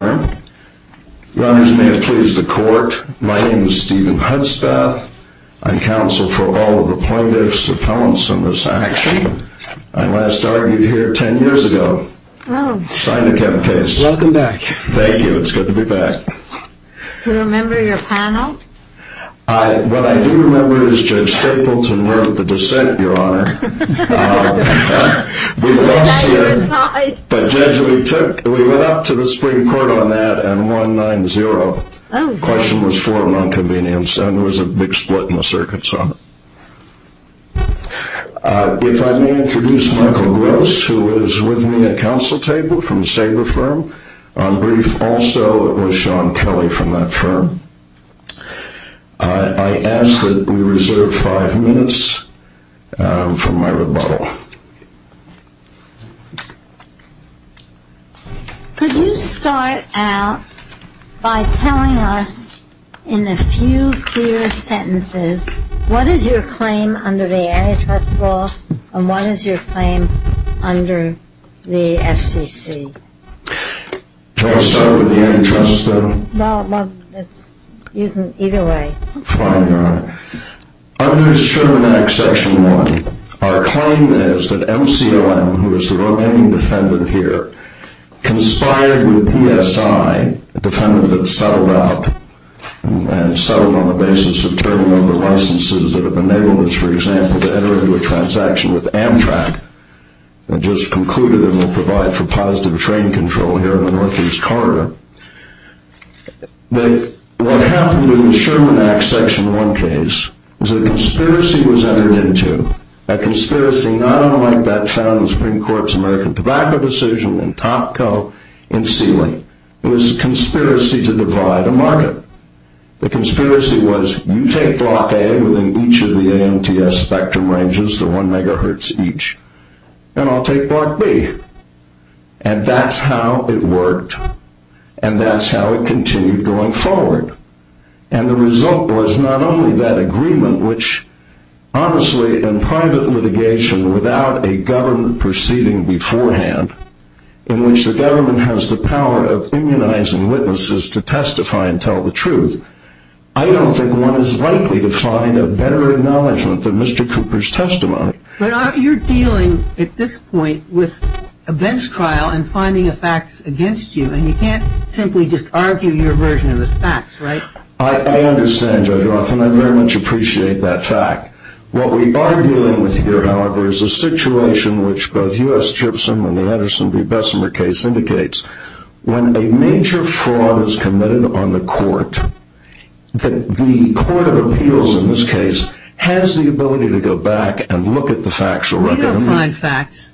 Your honors, may it please the court, my name is Stephen Hudspeth. I counsel for all of the plaintiffs' appellants in this action. I last argued here ten years ago. Signed the Kevin case. Welcome back. Thank you, it's good to be back. Do you remember your panel? What I do remember is Judge Stapleton wrote the dissent, your honor. We lost here. Is that your side? But Judge, we went up to the Supreme Court on that and won 9-0. The question was for an inconvenience and there was a big split in the circuits on it. If I may introduce Michael Gross, who is with me at counsel table from the Sager firm. Also, it was Sean Kelly from that firm. I ask that we reserve five minutes for my rebuttal. Could you start out by telling us in a few clear sentences what is your claim under the antitrust law and what is your claim under the FCC? Shall I start with the antitrust? No, either way. Fine, your honor. Under Sherman Act, Section 1, our claim is that MCOM, who is the remaining defendant here, conspired with ESI, a defendant that settled out and settled on the basis of turning over licenses that have enabled us, for example, to enter into a transaction with Amtrak. I just concluded and will provide for positive train control here in the Northeast Corridor. What happened in the Sherman Act, Section 1 case, is a conspiracy was entered into, a conspiracy not unlike that found in the Supreme Court's American Tobacco Decision and Topco and Sealy. It was a conspiracy to divide a market. The conspiracy was, you take Block A within each of the AMTS spectrum ranges, the one megahertz each, and I'll take Block B. And that's how it worked. And that's how it continued going forward. And the result was not only that agreement, which honestly in private litigation without a government proceeding beforehand, in which the government has the power of immunizing witnesses to testify and tell the truth, I don't think one is likely to find a better acknowledgement than Mr. Cooper's testimony. But you're dealing at this point with a bench trial and finding a fact against you, and you can't simply just argue your version of the facts, right? I understand, Judge Roth, and I very much appreciate that fact. What we are dealing with here, however, is a situation which both U.S. Chipson and the Anderson v. Bessemer case indicates. When a major fraud is committed on the court, the court of appeals in this case has the ability to go back and look at the facts. You don't find facts.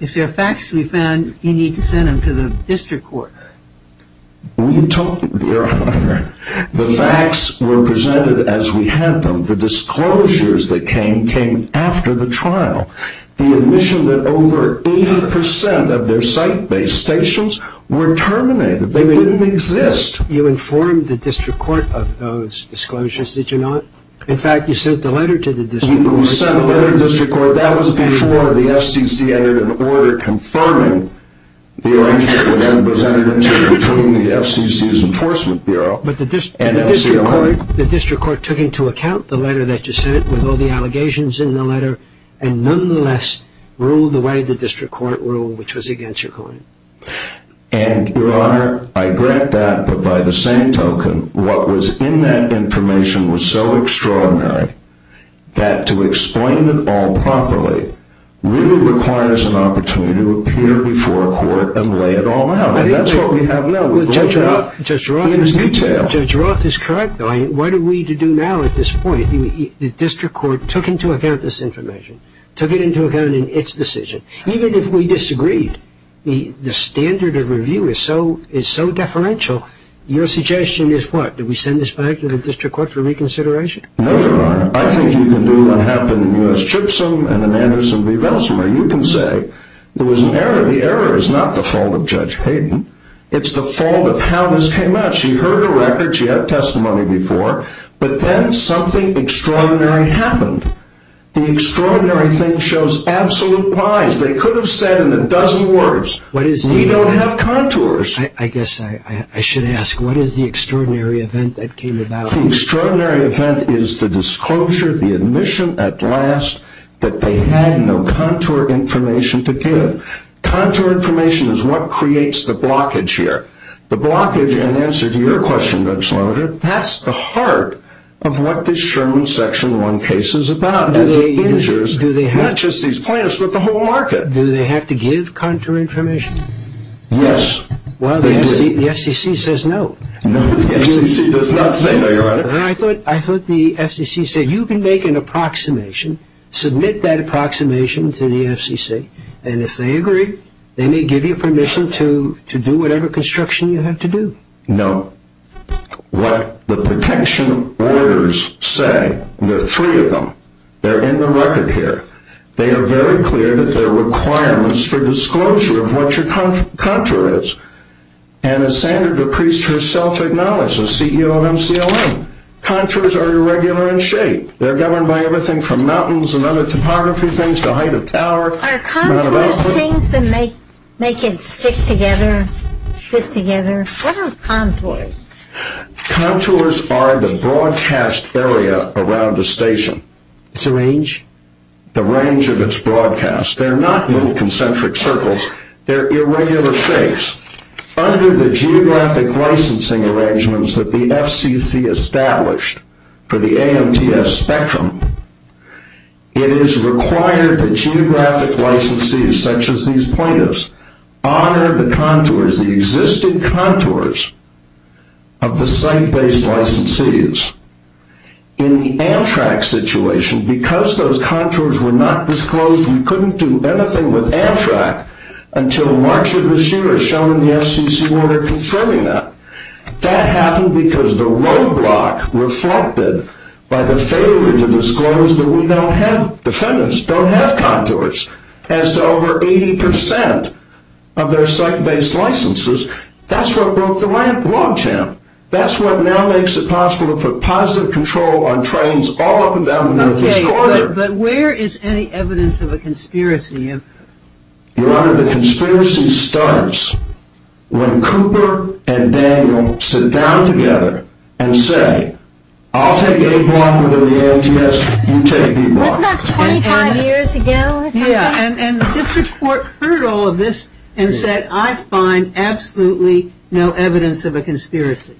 If there are facts to be found, you need to send them to the district court. We don't, Your Honor. The facts were presented as we had them. The disclosures that came came after the trial. The admission that over 80% of their site-based stations were terminated. They didn't exist. You informed the district court of those disclosures, did you not? In fact, you sent the letter to the district court. We sent a letter to the district court. That was before the FCC entered an order confirming the arrangement was entered into between the FCC's Enforcement Bureau and FCLN. The district court took into account the letter that you sent with all the allegations in the letter and nonetheless ruled the way the district court ruled, which was against your claim. And, Your Honor, I grant that, but by the same token, what was in that information was so extraordinary that to explain it all properly really requires an opportunity to appear before a court and lay it all out. And that's what we have now. Judge Roth is correct, though. What are we to do now at this point? The district court took into account this information, took it into account in its decision. Even if we disagreed, the standard of review is so deferential, your suggestion is what? Do we send this back to the district court for reconsideration? No, Your Honor. I think you can do what happened in U.S. Chipsum and in Anderson v. Belsumer. You can say there was an error. The error is not the fault of Judge Hayden. It's the fault of how this came out. She heard a record. She had testimony before. But then something extraordinary happened. The extraordinary thing shows absolute lies. They could have said it in a dozen words. We don't have contours. I guess I should ask, what is the extraordinary event that came about? The extraordinary event is the disclosure, the admission at last that they had no contour information to give. Contour information is what creates the blockage here. The blockage, in answer to your question, Judge Lowder, that's the heart of what this Sherman Section 1 case is about. Not just these plaintiffs, but the whole market. Do they have to give contour information? Yes, they do. Well, the FCC says no. No, the FCC does not say no, Your Honor. I thought the FCC said you can make an approximation, submit that approximation to the FCC, and if they agree, they may give you permission to do whatever construction you have to do. No. What the protection orders say, there are three of them, they're in the record here, they are very clear that there are requirements for disclosure of what your contour is. And as Sandra DePriest herself acknowledged as CEO of MCLM, contours are irregular in shape. They're governed by everything from mountains and other topography things to height of tower. Are contours things that make it stick together, fit together? What are contours? Contours are the broadcast area around a station. It's a range? The range of its broadcast. They're not little concentric circles. They're irregular shapes. Under the geographic licensing arrangements that the FCC established for the AMTS spectrum, it is required that geographic licensees, such as these plaintiffs, honor the contours, the existing contours of the site-based licensees. In the Amtrak situation, because those contours were not disclosed, we couldn't do anything with Amtrak until March of this year, as shown in the FCC order confirming that. That happened because the roadblock reflected by the failure to disclose that we don't have, defendants don't have contours as to over 80% of their site-based licenses. That's what broke the logjam. That's what now makes it possible to put positive control on trains all up and down the Northeast Corridor. Okay, but where is any evidence of a conspiracy? Your Honor, the conspiracy starts when Cooper and Daniel sit down together and say, I'll take A block with the AMTS, you take B block. Wasn't that 25 years ago or something? Yeah, and the district court heard all of this and said, I find absolutely no evidence of a conspiracy.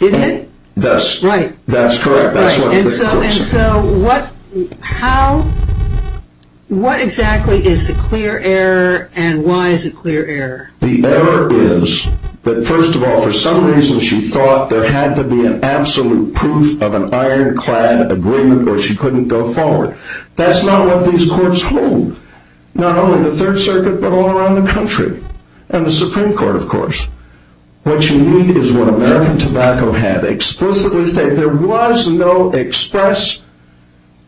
Didn't it? That's correct. And so what exactly is the clear error and why is it clear error? The error is that, first of all, for some reason she thought there had to be an absolute proof of an ironclad agreement or she couldn't go forward. That's not what these courts hold. Not only the Third Circuit, but all around the country and the Supreme Court, of course. What you need is what American Tobacco had explicitly stated. There was no express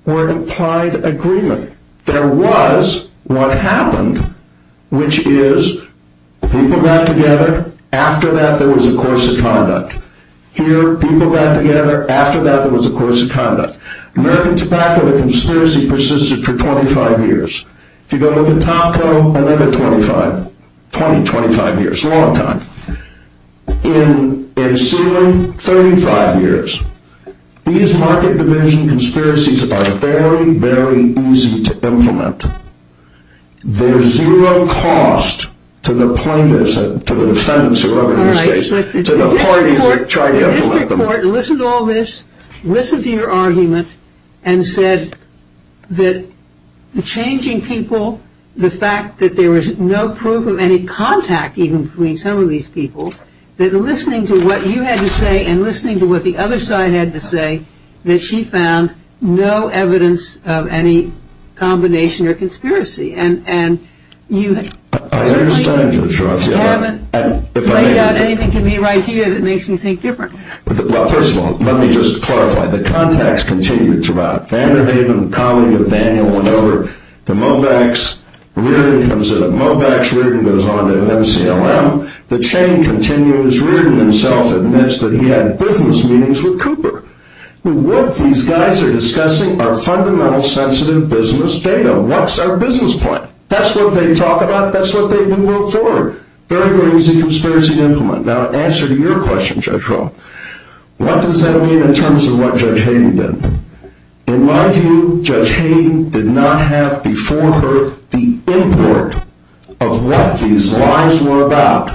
or implied agreement. There was what happened, which is people got together. After that, there was a course of conduct. Here, people got together. After that, there was a course of conduct. American Tobacco, the conspiracy persisted for 25 years. If you go look at Topco, another 25. 20, 25 years. A long time. In ceiling, 35 years. These market division conspiracies are very, very easy to implement. There's zero cost to the plaintiffs, to the defendants who are over in this case, to the parties that try to implement them. Mr. Court, listen to all this. Listen to your argument and said that changing people, the fact that there was no proof of any contact even between some of these people, that listening to what you had to say and listening to what the other side had to say, that she found no evidence of any combination or conspiracy. And you certainly haven't laid out anything to me right here that makes me think different. Well, first of all, let me just clarify. The contacts continued throughout. Vanderhaven, a colleague of Daniel, went over to Mobax. Reardon comes in at Mobax. Reardon goes on to MCLM. The chain continues. Reardon himself admits that he had business meetings with Cooper. What these guys are discussing are fundamental sensitive business data. What's our business plan? That's what they talk about. That's what they move forward. Very, very easy conspiracy to implement. Now, answer to your question, Judge Rall. What does that mean in terms of what Judge Hayden did? In my view, Judge Hayden did not have before her the import of what these lies were about.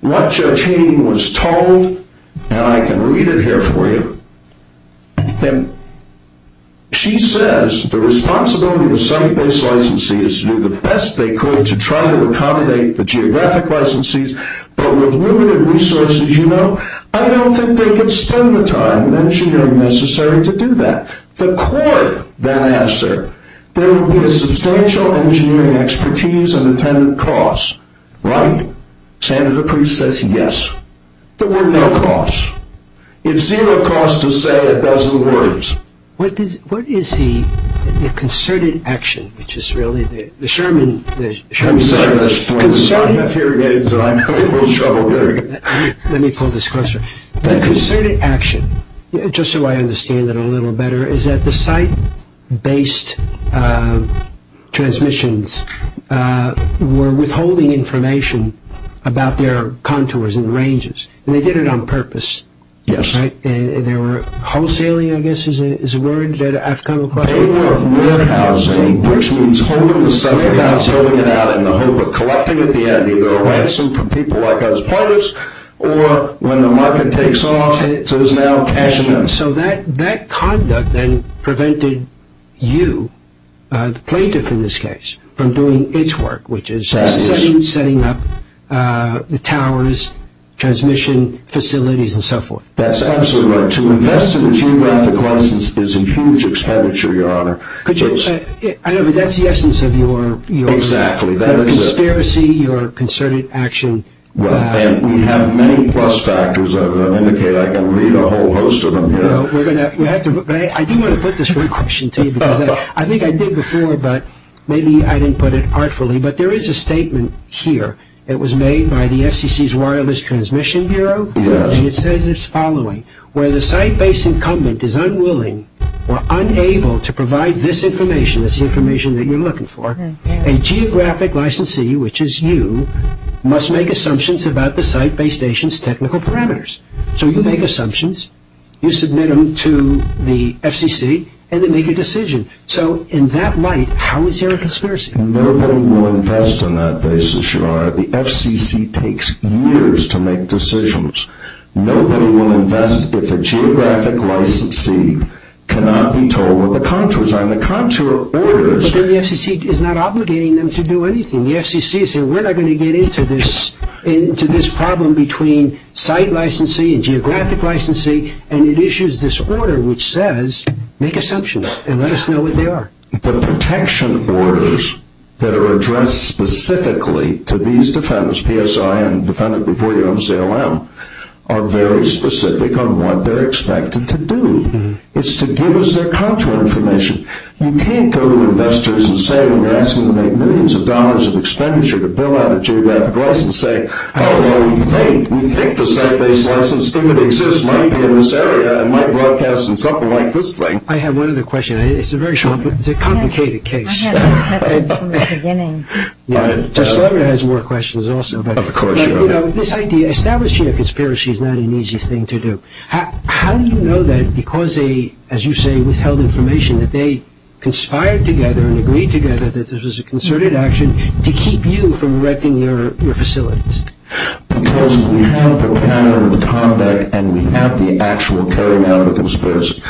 What Judge Hayden was told, and I can read it here for you, she says the responsibility of a site-based licensee is to do the best they could to try to accommodate the geographic licensees. But with limited resources, you know, I don't think they could spend the time and engineering necessary to do that. The court then asked her, there would be a substantial engineering expertise and intended cost, right? Senator Priest says yes. There were no costs. It's zero cost to say a dozen words. What is the concerted action, which is really the Sherman? Let me pull this closer. The concerted action, just so I understand it a little better, is that the site-based transmissions were withholding information about their contours and ranges, and they did it on purpose, right? Yes. They were wholesaling, I guess, is the word. They were warehousing, which means holding the stuff without selling it out in the hope of collecting at the end either a ransom from people like us, players, or when the market takes off, it is now cashing in. So that conduct then prevented you, the plaintiff in this case, from doing its work, which is setting up the towers, transmission facilities, and so forth. That's absolutely right. To invest in a geographic license is a huge expenditure, Your Honor. I know, but that's the essence of your conspiracy, your concerted action. We have many plus factors. I can read a whole host of them here. I do want to put this one question to you because I think I did before, but maybe I didn't put it artfully, but there is a statement here. It was made by the FCC's Wireless Transmission Bureau. It says the following. Where the site-based incumbent is unwilling or unable to provide this information, this information that you're looking for, a geographic licensee, which is you, must make assumptions about the site-based agent's technical parameters. So you make assumptions, you submit them to the FCC, and then make a decision. So in that light, how is there a conspiracy? Nobody will invest on that basis, Your Honor. The FCC takes years to make decisions. Nobody will invest if a geographic licensee cannot be told what the contours are, and the contour orders. But then the FCC is not obligating them to do anything. The FCC is saying we're not going to get into this problem between site licensee and geographic licensee, and it issues this order which says make assumptions and let us know what they are. The protection orders that are addressed specifically to these defendants, PSIN, defendant before you, MCLM, are very specific on what they're expected to do. It's to give us their contour information. You can't go to investors and say when you're asking them to make millions of dollars of expenditure to build out a geographic license and say, oh, well, we think the site-based licensee that exists might be in this area and might broadcast in something like this thing. I have one other question. It's a very complicated case. I had that message from the beginning. Judge Levin has more questions also. Of course, Your Honor. This idea, establishing a conspiracy is not an easy thing to do. How do you know that because they, as you say, withheld information, that they conspired together and agreed together that this was a concerted action to keep you from wrecking your facilities? Because we have the pattern of conduct and we have the actual carrying out of the conspiracy.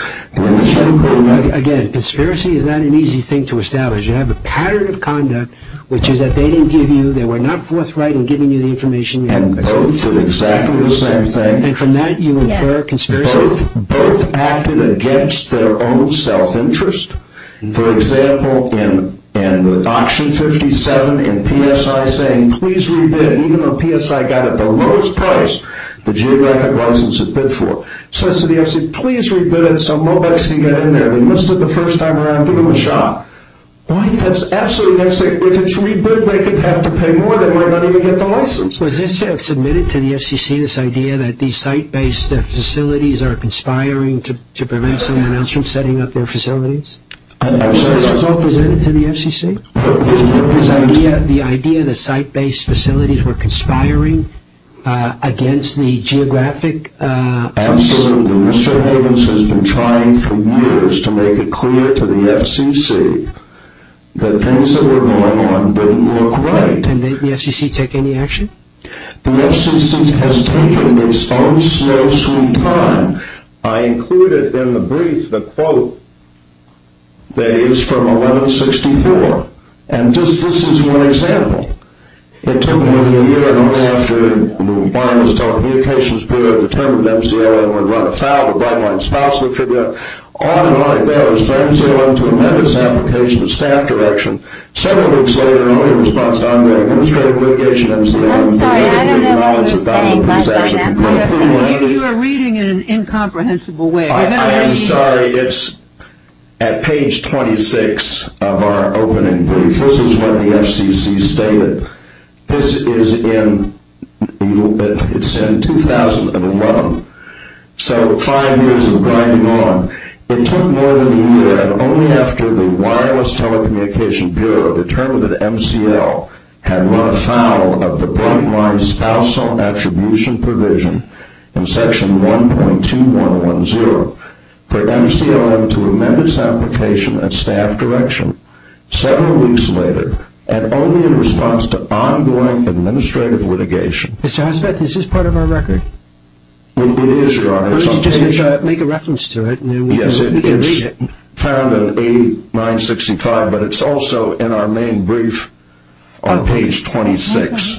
Again, conspiracy is not an easy thing to establish. You have a pattern of conduct, which is that they didn't give you, they were not forthright in giving you the information. And both did exactly the same thing. And from that you infer conspiracy? Both acted against their own self-interest. For example, in Auction 57, in PSI saying please re-bid, even though PSI got it the lowest price, the geographic license it bid for. So the FCC said please re-bid it so Mobex can get in there. They missed it the first time around. Give them a shot. That's absolutely necessary. If it's re-bid, they could have to pay more. They might not even get the license. Was this submitted to the FCC, this idea that these site-based facilities are conspiring to prevent someone else from setting up their facilities? Was this all presented to the FCC? The idea that site-based facilities were conspiring against the geographic license? Absolutely. Mr. Havens has been trying for years to make it clear to the FCC that things that were going on didn't look right. And did the FCC take any action? The FCC has taken its own slow, sweet time. I included in the brief the quote that is from 1164. And this is one example. It took more than a year and only after the wireless telecommunications period determined that MCLM would run afoul of Brightline's spousal figure. On and on it goes, from MCLM to amendments to application to staff direction. Several weeks later, only in response to ongoing administrative litigation, MCLM made a brief announcement about it. I'm sorry, I don't know what you're saying. Maybe you're reading it in an incomprehensible way. I'm sorry. It's at page 26 of our opening brief. This is what the FCC stated. This is in 2011. So five years of grinding on. It took more than a year and only after the wireless telecommunications bureau determined that MCL had run afoul of the Brightline spousal attribution provision in section 1.2110 for MCLM to amend its application and staff direction. Several weeks later, and only in response to ongoing administrative litigation. Mr. Hossbeth, is this part of our record? It is, Your Honor. First you just have to make a reference to it. Yes, it's found in 8965, but it's also in our main brief on page 26.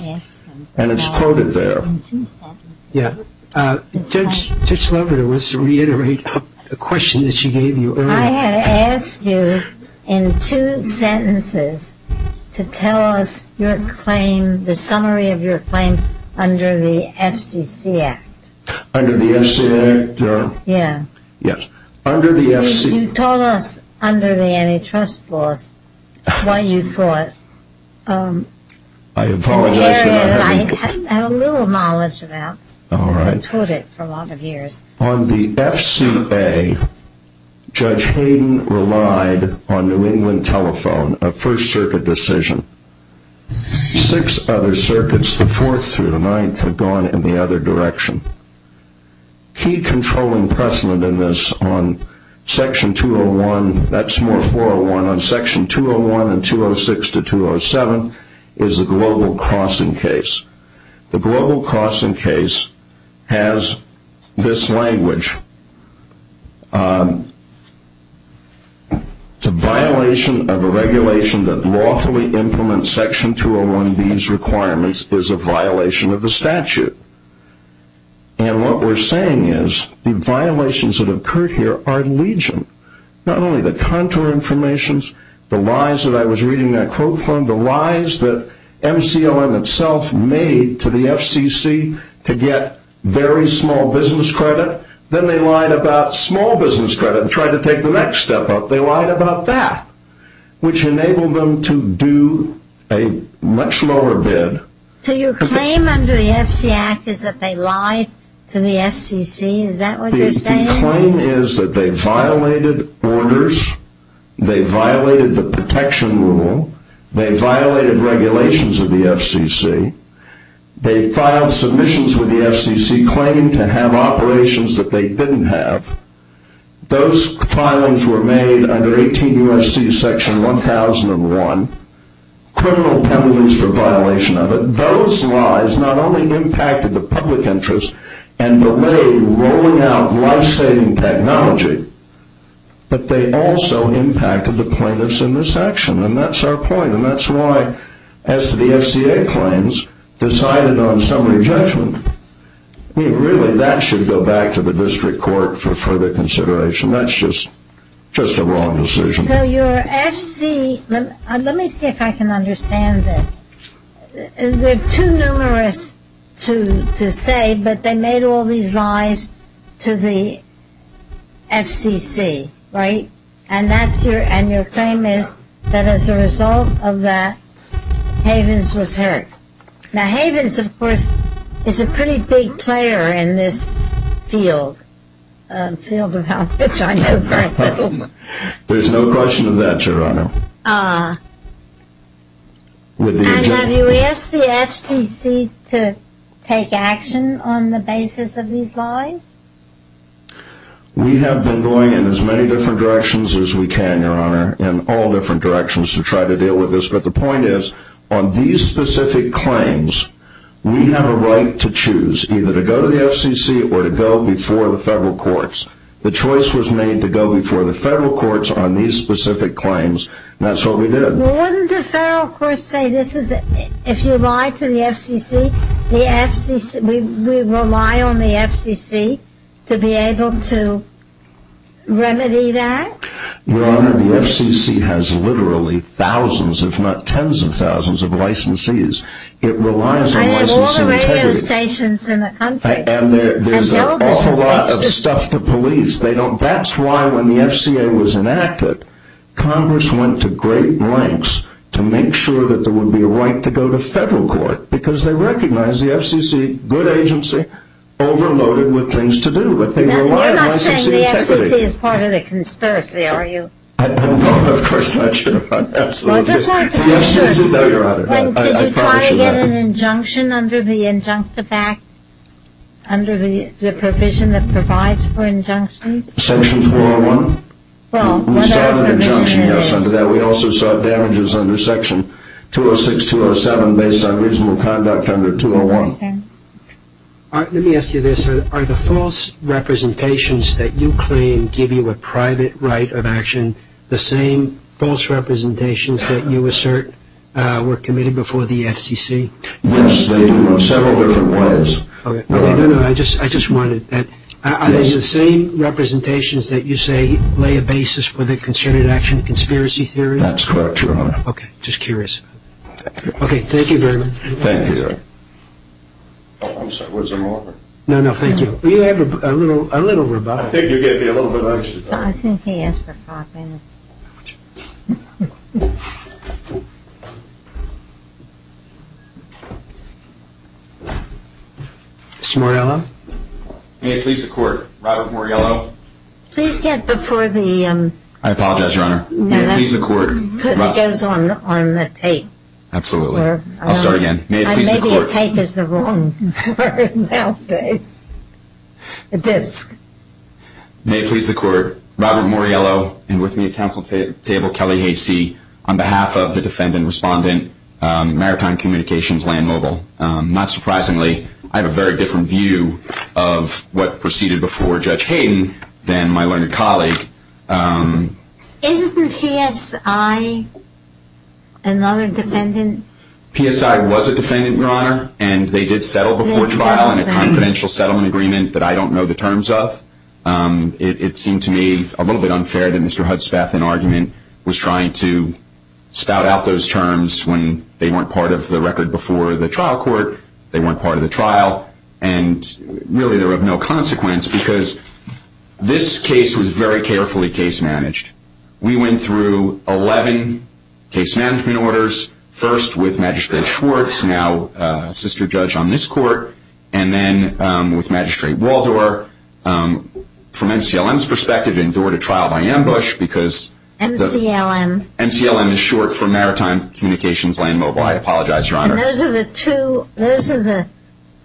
And it's quoted there. Yeah. Judge Loebert, I wish to reiterate a question that she gave you earlier. I had asked you in two sentences to tell us your claim, the summary of your claim under the FCC Act. Under the FCC Act? Yeah. Yes. Under the FCC. You told us under the antitrust laws what you thought. I apologize. I have a little knowledge about it. All right. Because I've told it for a lot of years. On the FCA, Judge Hayden relied on New England Telephone, a First Circuit decision. Six other circuits, the Fourth through the Ninth, had gone in the other direction. Key controlling precedent in this on section 201, that's more 401, on section 201 and 206 to 207 is a global crossing case. The global crossing case has this language. It's a violation of a regulation that lawfully implements section 201B's requirements is a violation of the statute. And what we're saying is the violations that occurred here are legion, not only the contour information, the lies that I was reading that quote from, the lies that MCOM itself made to the FCC to get very small business credit, then they lied about small business credit and tried to take the next step up. They lied about that, which enabled them to do a much lower bid. So your claim under the FC Act is that they lied to the FCC? Is that what you're saying? My claim is that they violated orders, they violated the protection rule, they violated regulations of the FCC, they filed submissions with the FCC claiming to have operations that they didn't have. Those filings were made under 18 U.S.C. section 1001, criminal penalties for violation of it. Those lies not only impacted the public interest and delayed rolling out life-saving technology, but they also impacted the plaintiffs in this action. And that's our point. And that's why as to the FCA claims decided on summary judgment, really that should go back to the district court for further consideration. That's just a wrong decision. So your FC, let me see if I can understand this. They're too numerous to say, but they made all these lies to the FCC, right? And your claim is that as a result of that, Havens was hurt. Now Havens, of course, is a pretty big player in this field. There's no question of that, Your Honor. And have you asked the FCC to take action on the basis of these lies? We have been going in as many different directions as we can, Your Honor, in all different directions to try to deal with this. But the point is, on these specific claims, we have a right to choose either to go to the FCC or to go before the federal courts. The choice was made to go before the federal courts on these specific claims, and that's what we did. Well, wouldn't the federal courts say, if you lie to the FCC, we rely on the FCC to be able to remedy that? Your Honor, the FCC has literally thousands, if not tens of thousands, of licensees. I have all the radio stations in the country. And there's an awful lot of stuff to police. That's why when the FCA was enacted, Congress went to great lengths to make sure that there would be a right to go to federal court, because they recognized the FCC, good agency, overloaded with things to do. You're not saying the FCC is part of the conspiracy, are you? No, of course not, Your Honor, absolutely not. Did you try to get an injunction under the injunctive act, under the provision that provides for injunctions? Section 401. We saw an injunction, yes, under that. We also saw damages under Section 206, 207, based on reasonable conduct under 201. Let me ask you this. Are the false representations that you claim give you a private right of action and the same false representations that you assert were committed before the FCC? Yes, they do in several different ways. No, no, I just wanted that. Are these the same representations that you say lay a basis for the concerted action conspiracy theory? That's correct, Your Honor. Okay, just curious. Okay, thank you very much. Thank you, Your Honor. Oh, I'm sorry. Was I wrong? No, no, thank you. Will you have a little rebuttal? I think you gave me a little bit of extra time. Well, I think he asked for five minutes. Mr. Moriello? May it please the Court, Robert Moriello. Please get before the... I apologize, Your Honor. May it please the Court. Because it goes on the tape. Absolutely. I'll start again. May it please the Court. Maybe a tape is the wrong word nowadays. A disc. May it please the Court. Robert Moriello, and with me at counsel table, Kelly Hastie, on behalf of the defendant-respondent Maritime Communications Land Mobile. Not surprisingly, I have a very different view of what proceeded before Judge Hayden than my learned colleague. Isn't your PSI another defendant? PSI was a defendant, Your Honor. And they did settle before trial in a confidential settlement agreement that I don't know the terms of. It seemed to me a little bit unfair that Mr. Hudspeth, in argument, was trying to spout out those terms when they weren't part of the record before the trial court, they weren't part of the trial, and really they were of no consequence because this case was very carefully case managed. We went through 11 case management orders, first with Magistrate Schwartz, now a sister judge on this court, and then with Magistrate Waldor, from MCLM's perspective, endured a trial by ambush because- MCLM. MCLM is short for Maritime Communications Land Mobile. I apologize, Your Honor. And those are the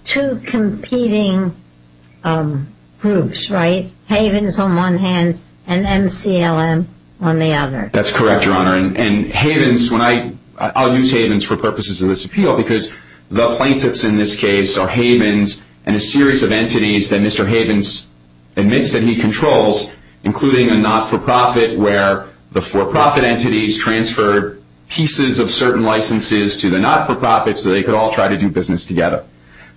two competing groups, right? Havens on one hand and MCLM on the other. That's correct, Your Honor. I'll use Havens for purposes of this appeal because the plaintiffs in this case are Havens and a series of entities that Mr. Havens admits that he controls, including a not-for-profit where the for-profit entities transfer pieces of certain licenses to the not-for-profits so they could all try to do business together.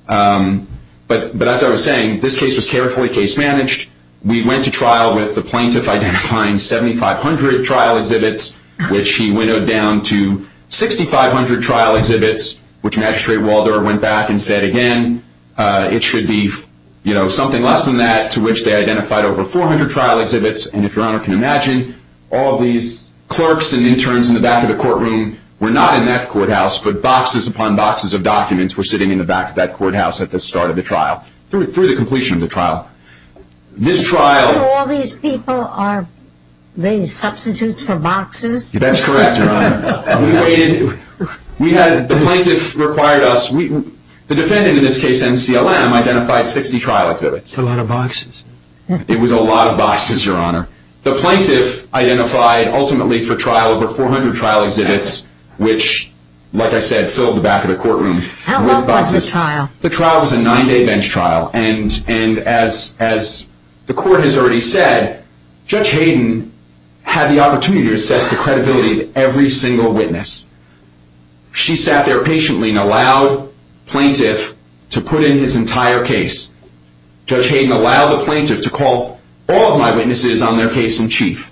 But as I was saying, this case was carefully case managed. We went to trial with the plaintiff identifying 7,500 trial exhibits, which he winnowed down to 6,500 trial exhibits, which Magistrate Waldor went back and said, again, it should be something less than that, to which they identified over 400 trial exhibits. And if Your Honor can imagine, all these clerks and interns in the back of the courtroom were not in that courthouse, but boxes upon boxes of documents were sitting in the back of that courthouse at the start of the trial, through the completion of the trial. So all these people are substitutes for boxes? That's correct, Your Honor. We waited. The plaintiff required us. The defendant in this case, NCLM, identified 60 trial exhibits. That's a lot of boxes. It was a lot of boxes, Your Honor. The plaintiff identified ultimately for trial over 400 trial exhibits, which, like I said, filled the back of the courtroom. How long was the trial? The trial was a nine-day bench trial. And as the court has already said, Judge Hayden had the opportunity to assess the credibility of every single witness. She sat there patiently and allowed plaintiff to put in his entire case. Judge Hayden allowed the plaintiff to call all of my witnesses on their case in chief.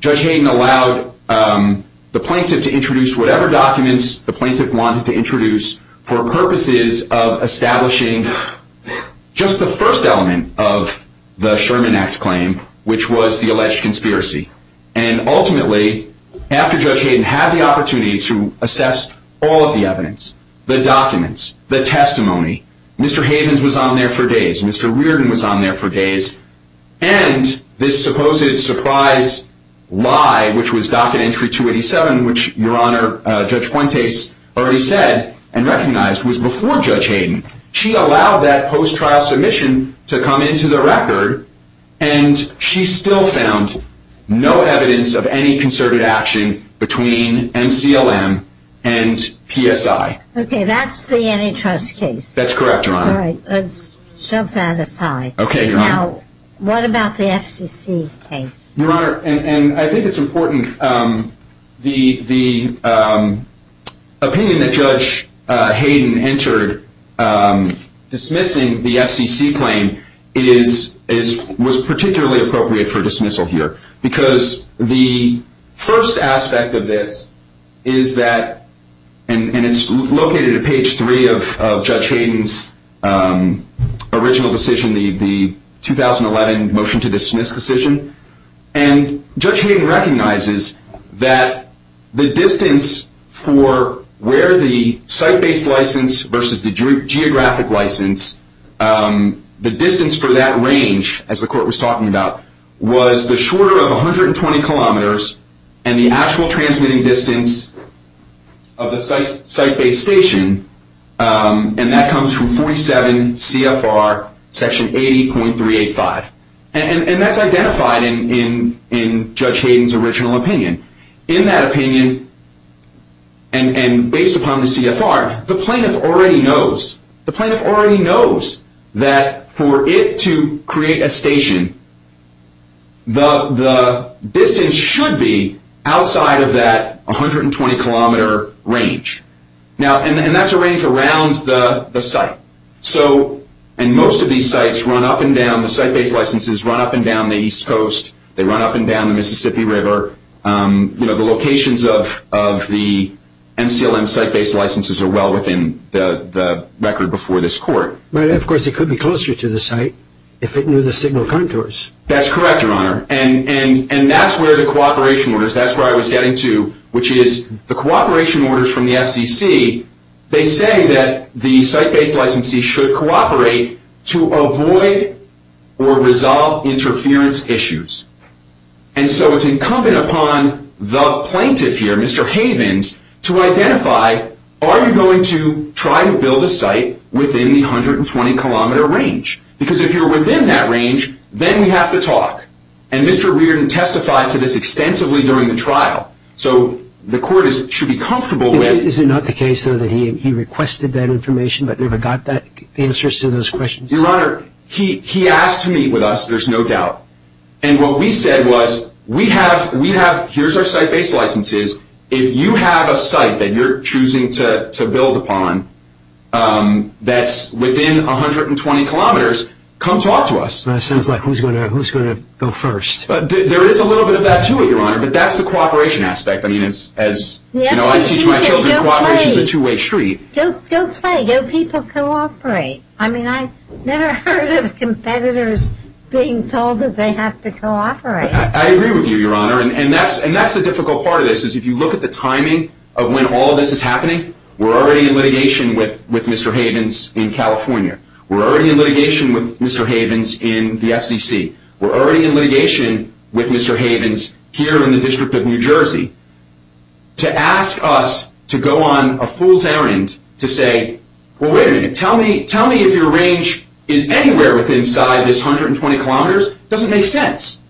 Judge Hayden allowed the plaintiff to introduce whatever documents the plaintiff wanted to introduce for purposes of establishing just the first element of the Sherman Act claim, which was the alleged conspiracy. And ultimately, after Judge Hayden had the opportunity to assess all of the evidence, the documents, the testimony, Mr. Havens was on there for days, Mr. Reardon was on there for days, and this supposed surprise lie, which was Docket Entry 287, which, Your Honor, Judge Fuentes already said and recognized was before Judge Hayden. She allowed that post-trial submission to come into the record, and she still found no evidence of any concerted action between MCLM and PSI. Okay, that's the antitrust case. That's correct, Your Honor. All right, let's shove that aside. Okay, Your Honor. Now, what about the FCC case? Your Honor, and I think it's important, the opinion that Judge Hayden entered dismissing the FCC claim was particularly appropriate for dismissal here, because the first aspect of this is that, and it's located at page three of Judge Hayden's original decision, the 2011 motion to dismiss decision, and Judge Hayden recognizes that the distance for where the site-based license versus the geographic license, the distance for that range, as the court was talking about, was the shorter of 120 kilometers and the actual transmitting distance of the site-based station, and that comes from 47 CFR section 80.385. And that's identified in Judge Hayden's original opinion. In that opinion, and based upon the CFR, the plaintiff already knows, that for it to create a station, the distance should be outside of that 120-kilometer range. And that's a range around the site. And most of these sites run up and down, the site-based licenses run up and down the East Coast. They run up and down the Mississippi River. The locations of the NCLM site-based licenses are well within the record before this court. But, of course, it could be closer to the site if it knew the signal contours. That's correct, Your Honor. And that's where the cooperation orders, that's where I was getting to, which is the cooperation orders from the FCC, they say that the site-based licensee should cooperate to avoid or resolve interference issues. And so it's incumbent upon the plaintiff here, Mr. Havens, to identify, are you going to try to build a site within the 120-kilometer range? Because if you're within that range, then we have to talk. And Mr. Reardon testifies to this extensively during the trial. So the court should be comfortable with... Is it not the case, though, that he requested that information but never got the answers to those questions? Your Honor, he asked to meet with us, there's no doubt. And what we said was, we have, here's our site-based licenses. If you have a site that you're choosing to build upon that's within 120 kilometers, come talk to us. Sounds like who's going to go first? There is a little bit of that, too, Your Honor, but that's the cooperation aspect. I mean, as I teach my children, cooperation is a two-way street. Go play, go people cooperate. I mean, I've never heard of competitors being told that they have to cooperate. I agree with you, Your Honor, and that's the difficult part of this, is if you look at the timing of when all of this is happening, we're already in litigation with Mr. Havens in California. We're already in litigation with Mr. Havens in the FCC. We're already in litigation with Mr. Havens here in the District of New Jersey. To ask us to go on a fool's errand to say, well, wait a minute, tell me if your range is anywhere within this 120 kilometers doesn't make sense.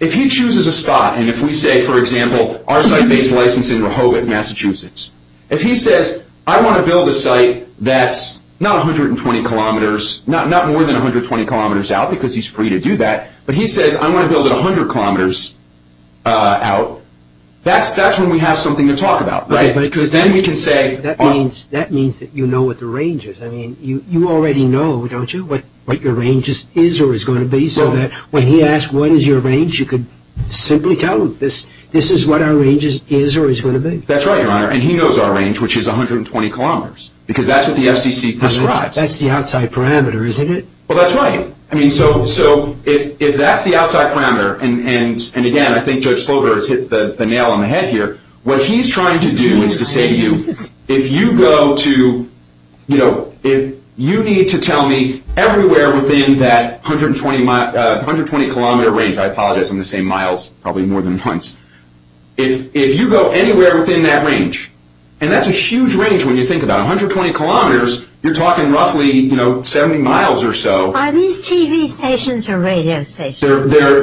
If he chooses a spot, and if we say, for example, our site-based license in Rehoboth, Massachusetts, if he says, I want to build a site that's not 120 kilometers, not more than 120 kilometers out, because he's free to do that, but he says, I want to build it 100 kilometers out, that's when we have something to talk about, right? That means that you know what the range is. You already know, don't you, what your range is or is going to be, so that when he asks, what is your range, you could simply tell him, this is what our range is or is going to be. That's right, Your Honor, and he knows our range, which is 120 kilometers, because that's what the FCC describes. That's the outside parameter, isn't it? Well, that's right. If that's the outside parameter, and again, I think Judge Slover has hit the nail on the head here, what he's trying to do is to say to you, if you go to, you know, if you need to tell me everywhere within that 120-kilometer range, I apologize, I'm going to say miles probably more than once, if you go anywhere within that range, and that's a huge range when you think about it, 120 kilometers, you're talking roughly, you know, 70 miles or so. Are these TV stations or radio stations? They're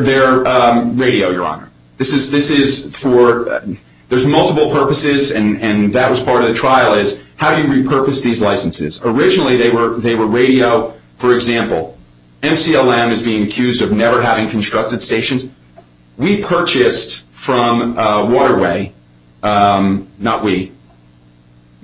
radio, Your Honor. This is for, there's multiple purposes, and that was part of the trial, is how do you repurpose these licenses? Originally, they were radio. For example, MCLM is being accused of never having constructed stations. We purchased from Waterway, not we,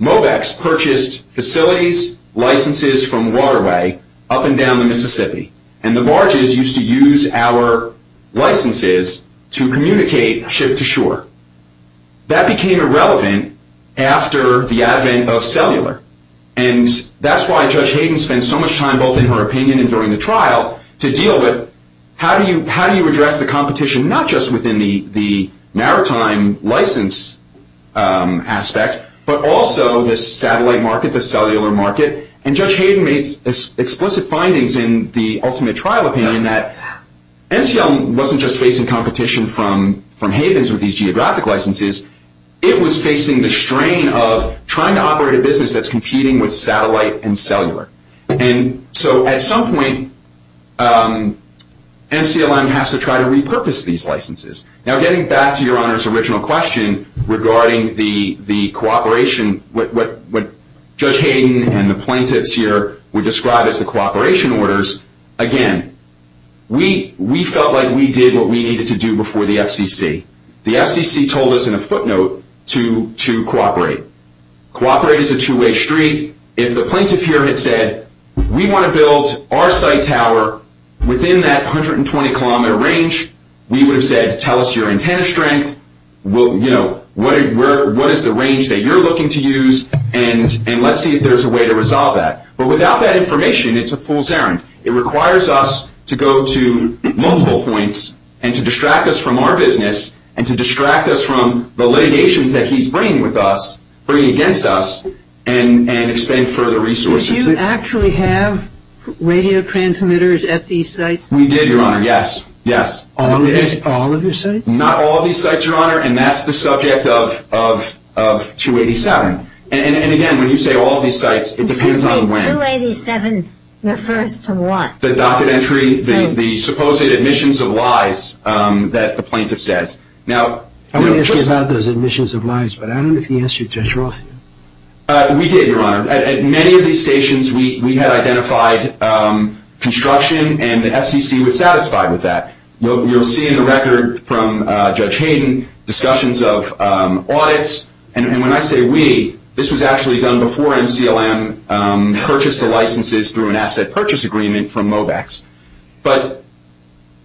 Mobex purchased facilities, licenses from Waterway up and down the Mississippi, and the barges used to use our licenses to communicate ship to shore. That became irrelevant after the advent of cellular, and that's why Judge Hayden spent so much time both in her opinion and during the trial to deal with, how do you address the competition not just within the maritime license aspect, but also the satellite market, the cellular market, and Judge Hayden made explicit findings in the ultimate trial opinion that MCLM wasn't just facing competition from Havens with these geographic licenses. It was facing the strain of trying to operate a business that's competing with satellite and cellular, and so at some point, MCLM has to try to repurpose these licenses. Now, getting back to Your Honor's original question regarding the cooperation, what Judge Hayden and the plaintiffs here would describe as the cooperation orders, again, we felt like we did what we needed to do before the FCC. The FCC told us in a footnote to cooperate. Cooperate is a two-way street. If the plaintiff here had said, we want to build our site tower within that 120-kilometer range, we would have said, tell us your antenna strength, what is the range that you're looking to use, and let's see if there's a way to resolve that. But without that information, it's a fool's errand. It requires us to go to multiple points and to distract us from our business and to distract us from the litigations that he's bringing with us, bringing against us, and expend further resources. Did you actually have radio transmitters at these sites? We did, Your Honor, yes. All of your sites? Not all of these sites, Your Honor, and that's the subject of 287. And again, when you say all of these sites, it depends on when. 287 refers to what? The docket entry, the supposed admissions of lies that the plaintiff says. I'm going to ask you about those admissions of lies, but I don't know if you answered Judge Rothfield. We did, Your Honor. At many of these stations, we had identified construction, and the FCC was satisfied with that. You'll see in the record from Judge Hayden discussions of audits. And when I say we, this was actually done before MCLM purchased the licenses through an asset purchase agreement from Mobax. But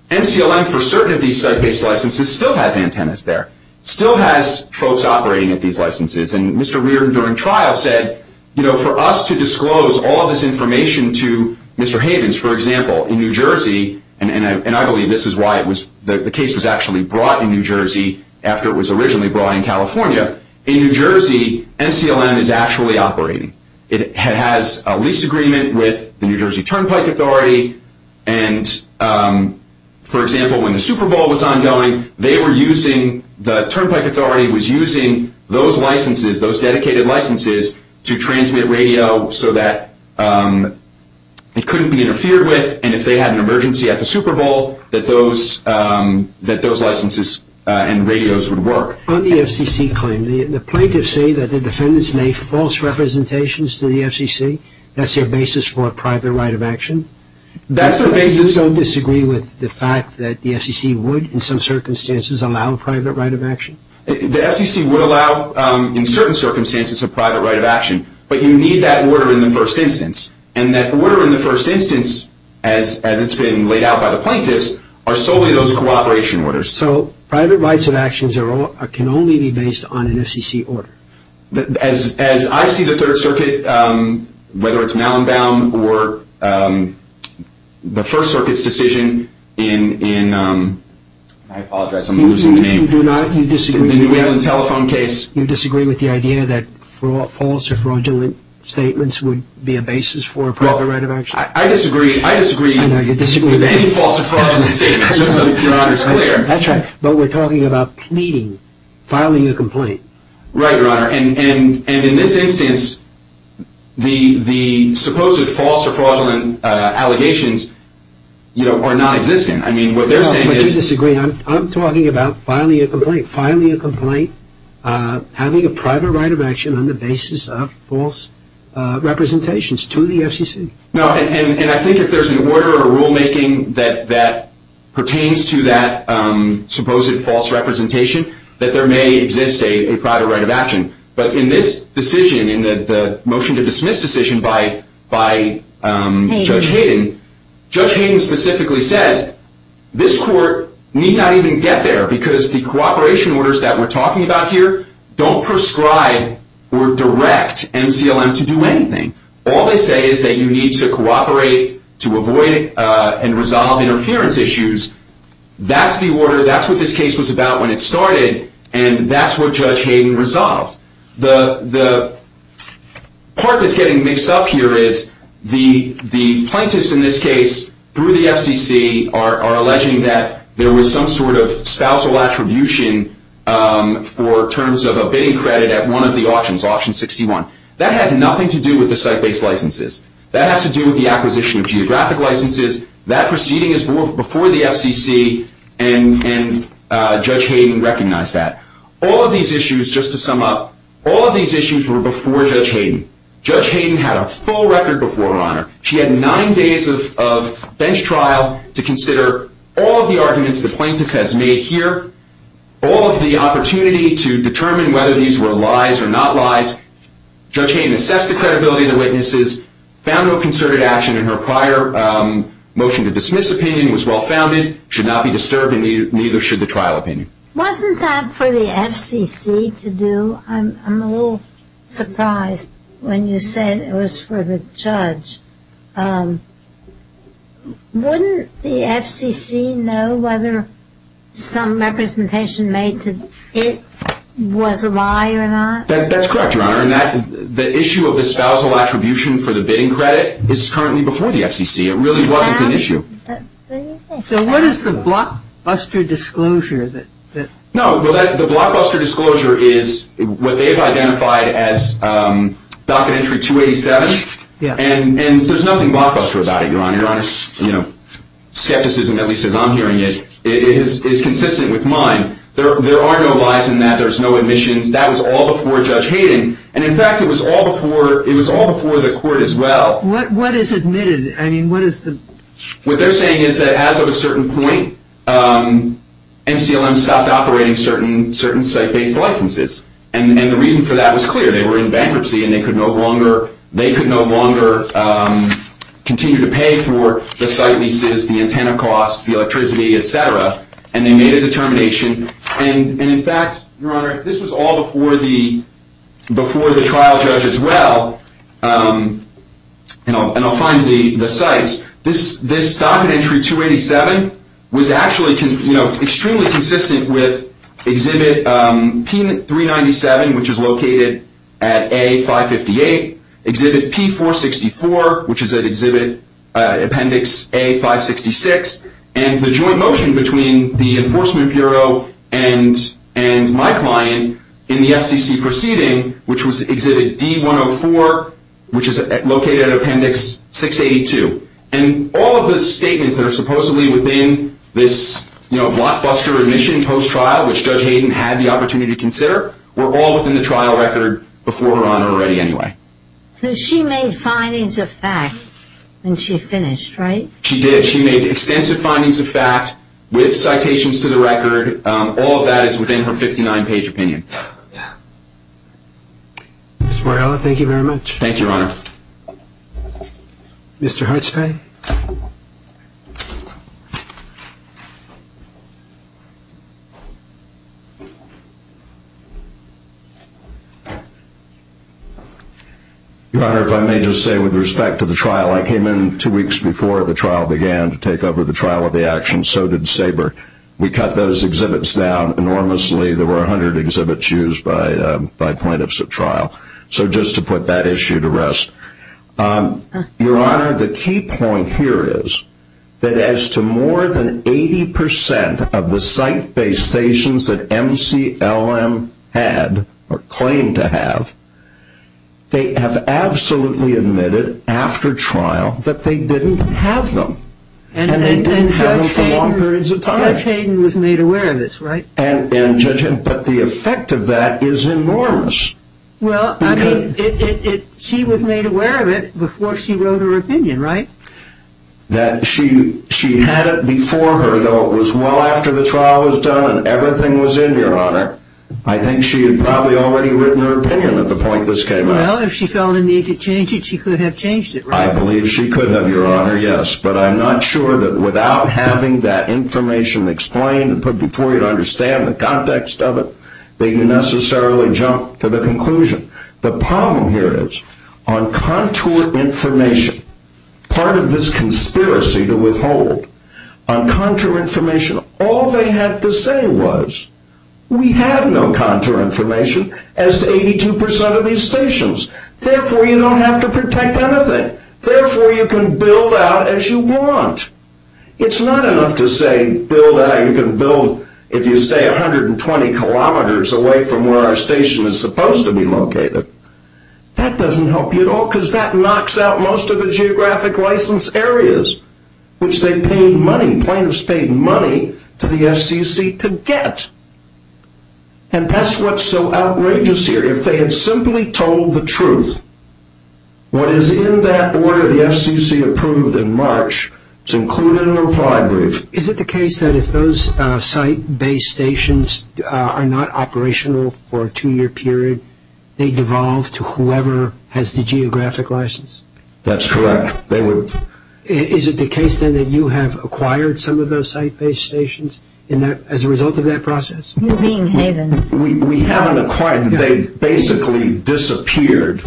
MCLM, for certain of these site-based licenses, still has antennas there, still has folks operating at these licenses. And Mr. Reardon during trial said, you know, for us to disclose all this information to Mr. Hayden's, for example, in New Jersey, and I believe this is why the case was actually brought in New Jersey after it was originally brought in California. In New Jersey, MCLM is actually operating. It has a lease agreement with the New Jersey Turnpike Authority. And, for example, when the Super Bowl was ongoing, they were using, the Turnpike Authority was using those licenses, those dedicated licenses, to transmit radio so that it couldn't be interfered with. And if they had an emergency at the Super Bowl, that those licenses and radios would work. On the FCC claim, the plaintiffs say that the defendants made false representations to the FCC. That's their basis for a private right of action? That's their basis. You don't disagree with the fact that the FCC would, in some circumstances, allow a private right of action? The FCC would allow, in certain circumstances, a private right of action. But you need that order in the first instance. And that order in the first instance, as it's been laid out by the plaintiffs, are solely those cooperation orders. So private rights of actions can only be based on an FCC order? As I see the Third Circuit, whether it's Malinbaum or the First Circuit's decision in, I apologize, I'm losing the name. You disagree with the New England telephone case? You disagree with the idea that false or fraudulent statements would be a basis for a private right of action? I disagree with any false or fraudulent statements, just so Your Honor is clear. That's right, but we're talking about pleading, filing a complaint. Right, Your Honor. And in this instance, the supposed false or fraudulent allegations are nonexistent. I mean, what they're saying is- No, but you disagree. I'm talking about filing a complaint. Filing a complaint, having a private right of action on the basis of false representations to the FCC. No, and I think if there's an order or rulemaking that pertains to that supposed false representation, that there may exist a private right of action. But in this decision, in the motion to dismiss decision by Judge Hayden, Judge Hayden specifically says, this court need not even get there because the cooperation orders that we're talking about here don't prescribe or direct MCLM to do anything. All they say is that you need to cooperate to avoid and resolve interference issues. That's the order. That's what this case was about when it started, and that's what Judge Hayden resolved. The part that's getting mixed up here is the plaintiffs in this case, through the FCC, are alleging that there was some sort of spousal attribution for terms of a bidding credit at one of the auctions, auction 61. That has nothing to do with the site-based licenses. That has to do with the acquisition of geographic licenses. That proceeding is before the FCC, and Judge Hayden recognized that. All of these issues, just to sum up, all of these issues were before Judge Hayden. Judge Hayden had a full record before her honor. She had nine days of bench trial to consider all of the arguments the plaintiffs has made here, all of the opportunity to determine whether these were lies or not lies. Judge Hayden assessed the credibility of the witnesses, found no concerted action in her prior motion to dismiss opinion, was well-founded, should not be disturbed, and neither should the trial opinion. Wasn't that for the FCC to do? I'm a little surprised when you say it was for the judge. Wouldn't the FCC know whether some representation made that it was a lie or not? That's correct, Your Honor. The issue of the spousal attribution for the bidding credit is currently before the FCC. It really wasn't an issue. So what is the blockbuster disclosure? The blockbuster disclosure is what they've identified as Docket Entry 287, and there's nothing blockbuster about it, Your Honor. Your Honor's skepticism, at least as I'm hearing it, is consistent with mine. There are no lies in that. There's no admissions. That was all before Judge Hayden, and, in fact, it was all before the court as well. What is admitted? What they're saying is that as of a certain point, NCLM stopped operating certain site-based licenses, and the reason for that was clear. They were in bankruptcy, and they could no longer continue to pay for the site leases, the antenna costs, the electricity, et cetera, and they made a determination. In fact, Your Honor, this was all before the trial judge as well, and I'll find the sites. This Docket Entry 287 was actually extremely consistent with Exhibit P397, which is located at A558, Exhibit P464, which is at Appendix A566, and the joint motion between the Enforcement Bureau and my client in the FCC proceeding, which was Exhibit D104, which is located at Appendix 682, and all of the statements that are supposedly within this blockbuster admission post-trial, which Judge Hayden had the opportunity to consider, were all within the trial record before, Your Honor, already anyway. So she made findings of fact when she finished, right? She did. She made extensive findings of fact with citations to the record. All of that is within her 59-page opinion. Ms. Mariella, thank you very much. Thank you, Your Honor. Mr. Hartspey? Your Honor, if I may just say, with respect to the trial, I came in two weeks before the trial began to take over the trial of the action. So did SABRE. We cut those exhibits down enormously. There were 100 exhibits used by plaintiffs at trial. So just to put that issue to rest, Your Honor, the key point here is that as to more than 80 percent of the site-based stations that MCLM had or claimed to have, they have absolutely admitted after trial that they didn't have them. And they didn't have them for long periods of time. And Judge Hayden was made aware of this, right? And Judge Hayden. But the effect of that is enormous. Well, I mean, she was made aware of it before she wrote her opinion, right? That she had it before her, though it was well after the trial was done and everything was in, Your Honor. I think she had probably already written her opinion at the point this came out. Well, if she felt the need to change it, she could have changed it, right? I believe she could have, Your Honor, yes. But I'm not sure that without having that information explained and put before you to understand the context of it, that you necessarily jump to the conclusion. The problem here is on contour information, part of this conspiracy to withhold, on contour information, all they had to say was, we have no contour information as to 82% of these stations. Therefore, you don't have to protect anything. Therefore, you can build out as you want. It's not enough to say build out, you can build, if you stay 120 kilometers away from where our station is supposed to be located. That doesn't help you at all because that knocks out most of the geographic license areas, which they paid money, plaintiffs paid money to the FCC to get. And that's what's so outrageous here. If they had simply told the truth, what is in that order the FCC approved in March is included in a reply brief. Is it the case that if those site-based stations are not operational for a two-year period, they devolve to whoever has the geographic license? That's correct. Is it the case then that you have acquired some of those site-based stations as a result of that process? You're being havens. We haven't acquired, they basically disappeared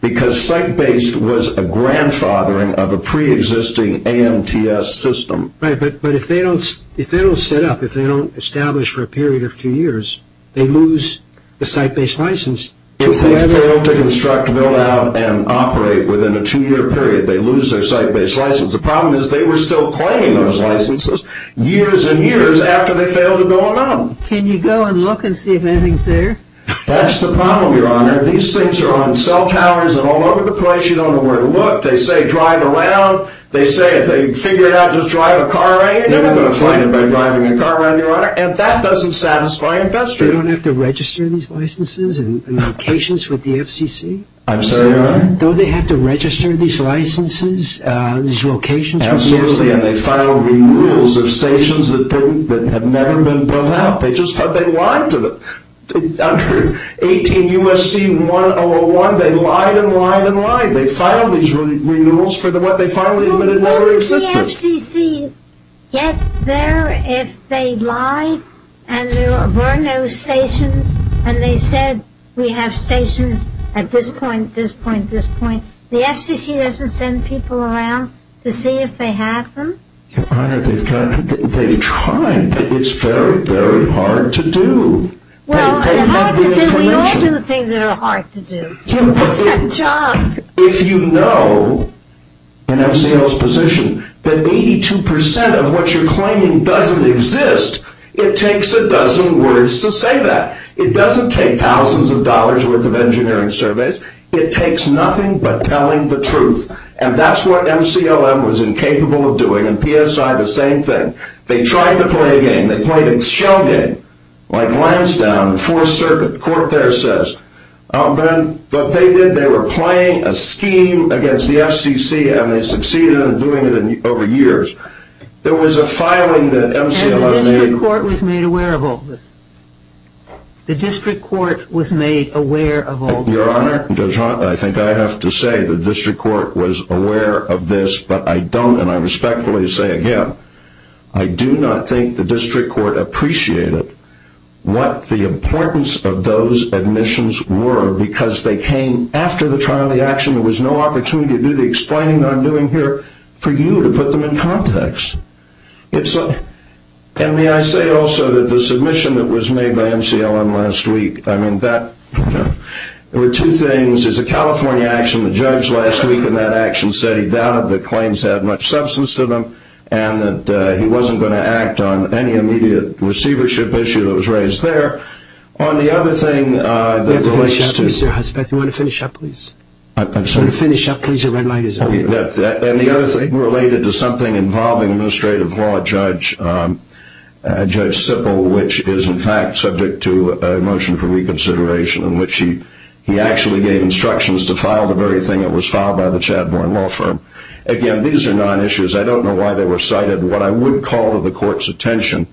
because site-based was a grandfathering of a pre-existing AMTS system. Right, but if they don't set up, if they don't establish for a period of two years, they lose the site-based license. If they fail to construct, build out, and operate within a two-year period, they lose their site-based license. The problem is they were still claiming those licenses years and years after they failed to build them out. Can you go and look and see if anything's there? That's the problem, Your Honor. These things are on cell towers and all over the place. You don't know where to look. They say drive around. They say, as they figure it out, just drive a car around. You're never going to find anybody driving a car around, Your Honor, and that doesn't satisfy investors. So they don't have to register these licenses and locations with the FCC? I'm sorry, Your Honor? Don't they have to register these licenses, these locations with the FCC? Absolutely, and they file renewals of stations that have never been built out. They just thought they lied to them. Under 18 U.S.C. 101, they lied and lied and lied. They filed these renewals for what they finally admitted never existed. Did the FCC get there if they lied and there were no stations and they said we have stations at this point, this point, this point? The FCC doesn't send people around to see if they have them? Your Honor, they've tried, but it's very, very hard to do. Well, we all do things that are hard to do. It's a job. If you know, in MCL's position, that 82% of what you're claiming doesn't exist, it takes a dozen words to say that. It doesn't take thousands of dollars' worth of engineering surveys. It takes nothing but telling the truth, and that's what MCLM was incapable of doing, and PSI, the same thing. They tried to play a game. They played a shell game, like Lansdowne, Fourth Circuit. The court there says what they did, they were playing a scheme against the FCC, and they succeeded in doing it over years. There was a filing that MCLM made. And the district court was made aware of all this. The district court was made aware of all this. Your Honor, I think I have to say the district court was aware of this, but I don't, and I respectfully say again, I do not think the district court appreciated what the importance of those admissions were, because they came after the trial and the action. There was no opportunity to do the explaining that I'm doing here for you to put them in context. And may I say also that the submission that was made by MCLM last week, I mean, that, you know, there were two things. There's a California action, the judge last week in that action said he doubted the claims had much substance to them, and that he wasn't going to act on any immediate receivership issue that was raised there. On the other thing that relates to – You have to finish up, Mr. Hussbeth. You want to finish up, please? I'm sorry? You want to finish up, please? Your red light is over here. And the other thing related to something involving administrative law, Judge Sippel, which is, in fact, subject to a motion for reconsideration in which he actually gave instructions to file the very thing that was filed by the Chadbourne Law Firm. Again, these are non-issues. I don't know why they were cited. What I would call to the court's attention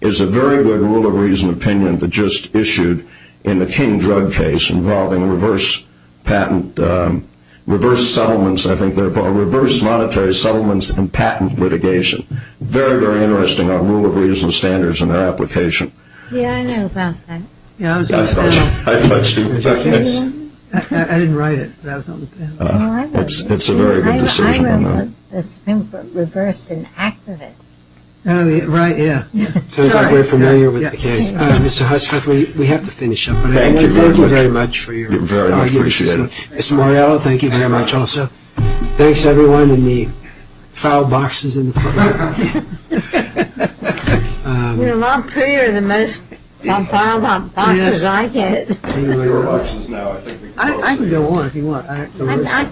is a very good rule of reason opinion that just issued in the King drug case involving reverse patent – reverse settlements, I think they're called, reverse monetary settlements and patent litigation. Very, very interesting rule of reason standards in their application. Yeah, I know about that. Yeah, I was going to say that. I didn't write it, but I was on the panel. It's a very good decision on that. I wrote it. It's been reversed in act of it. Oh, right, yeah. Sounds like we're familiar with the case. Mr. Hussbeth, we have to finish up. Thank you very much. Thank you very much for your time. I appreciate it. Ms. Morrello, thank you very much also. Thanks, everyone, and the foul boxes in the courtroom. You know, I'm prettier than most of the foul boxes I get. Your box is now, I think, the closest. I can go on if you want.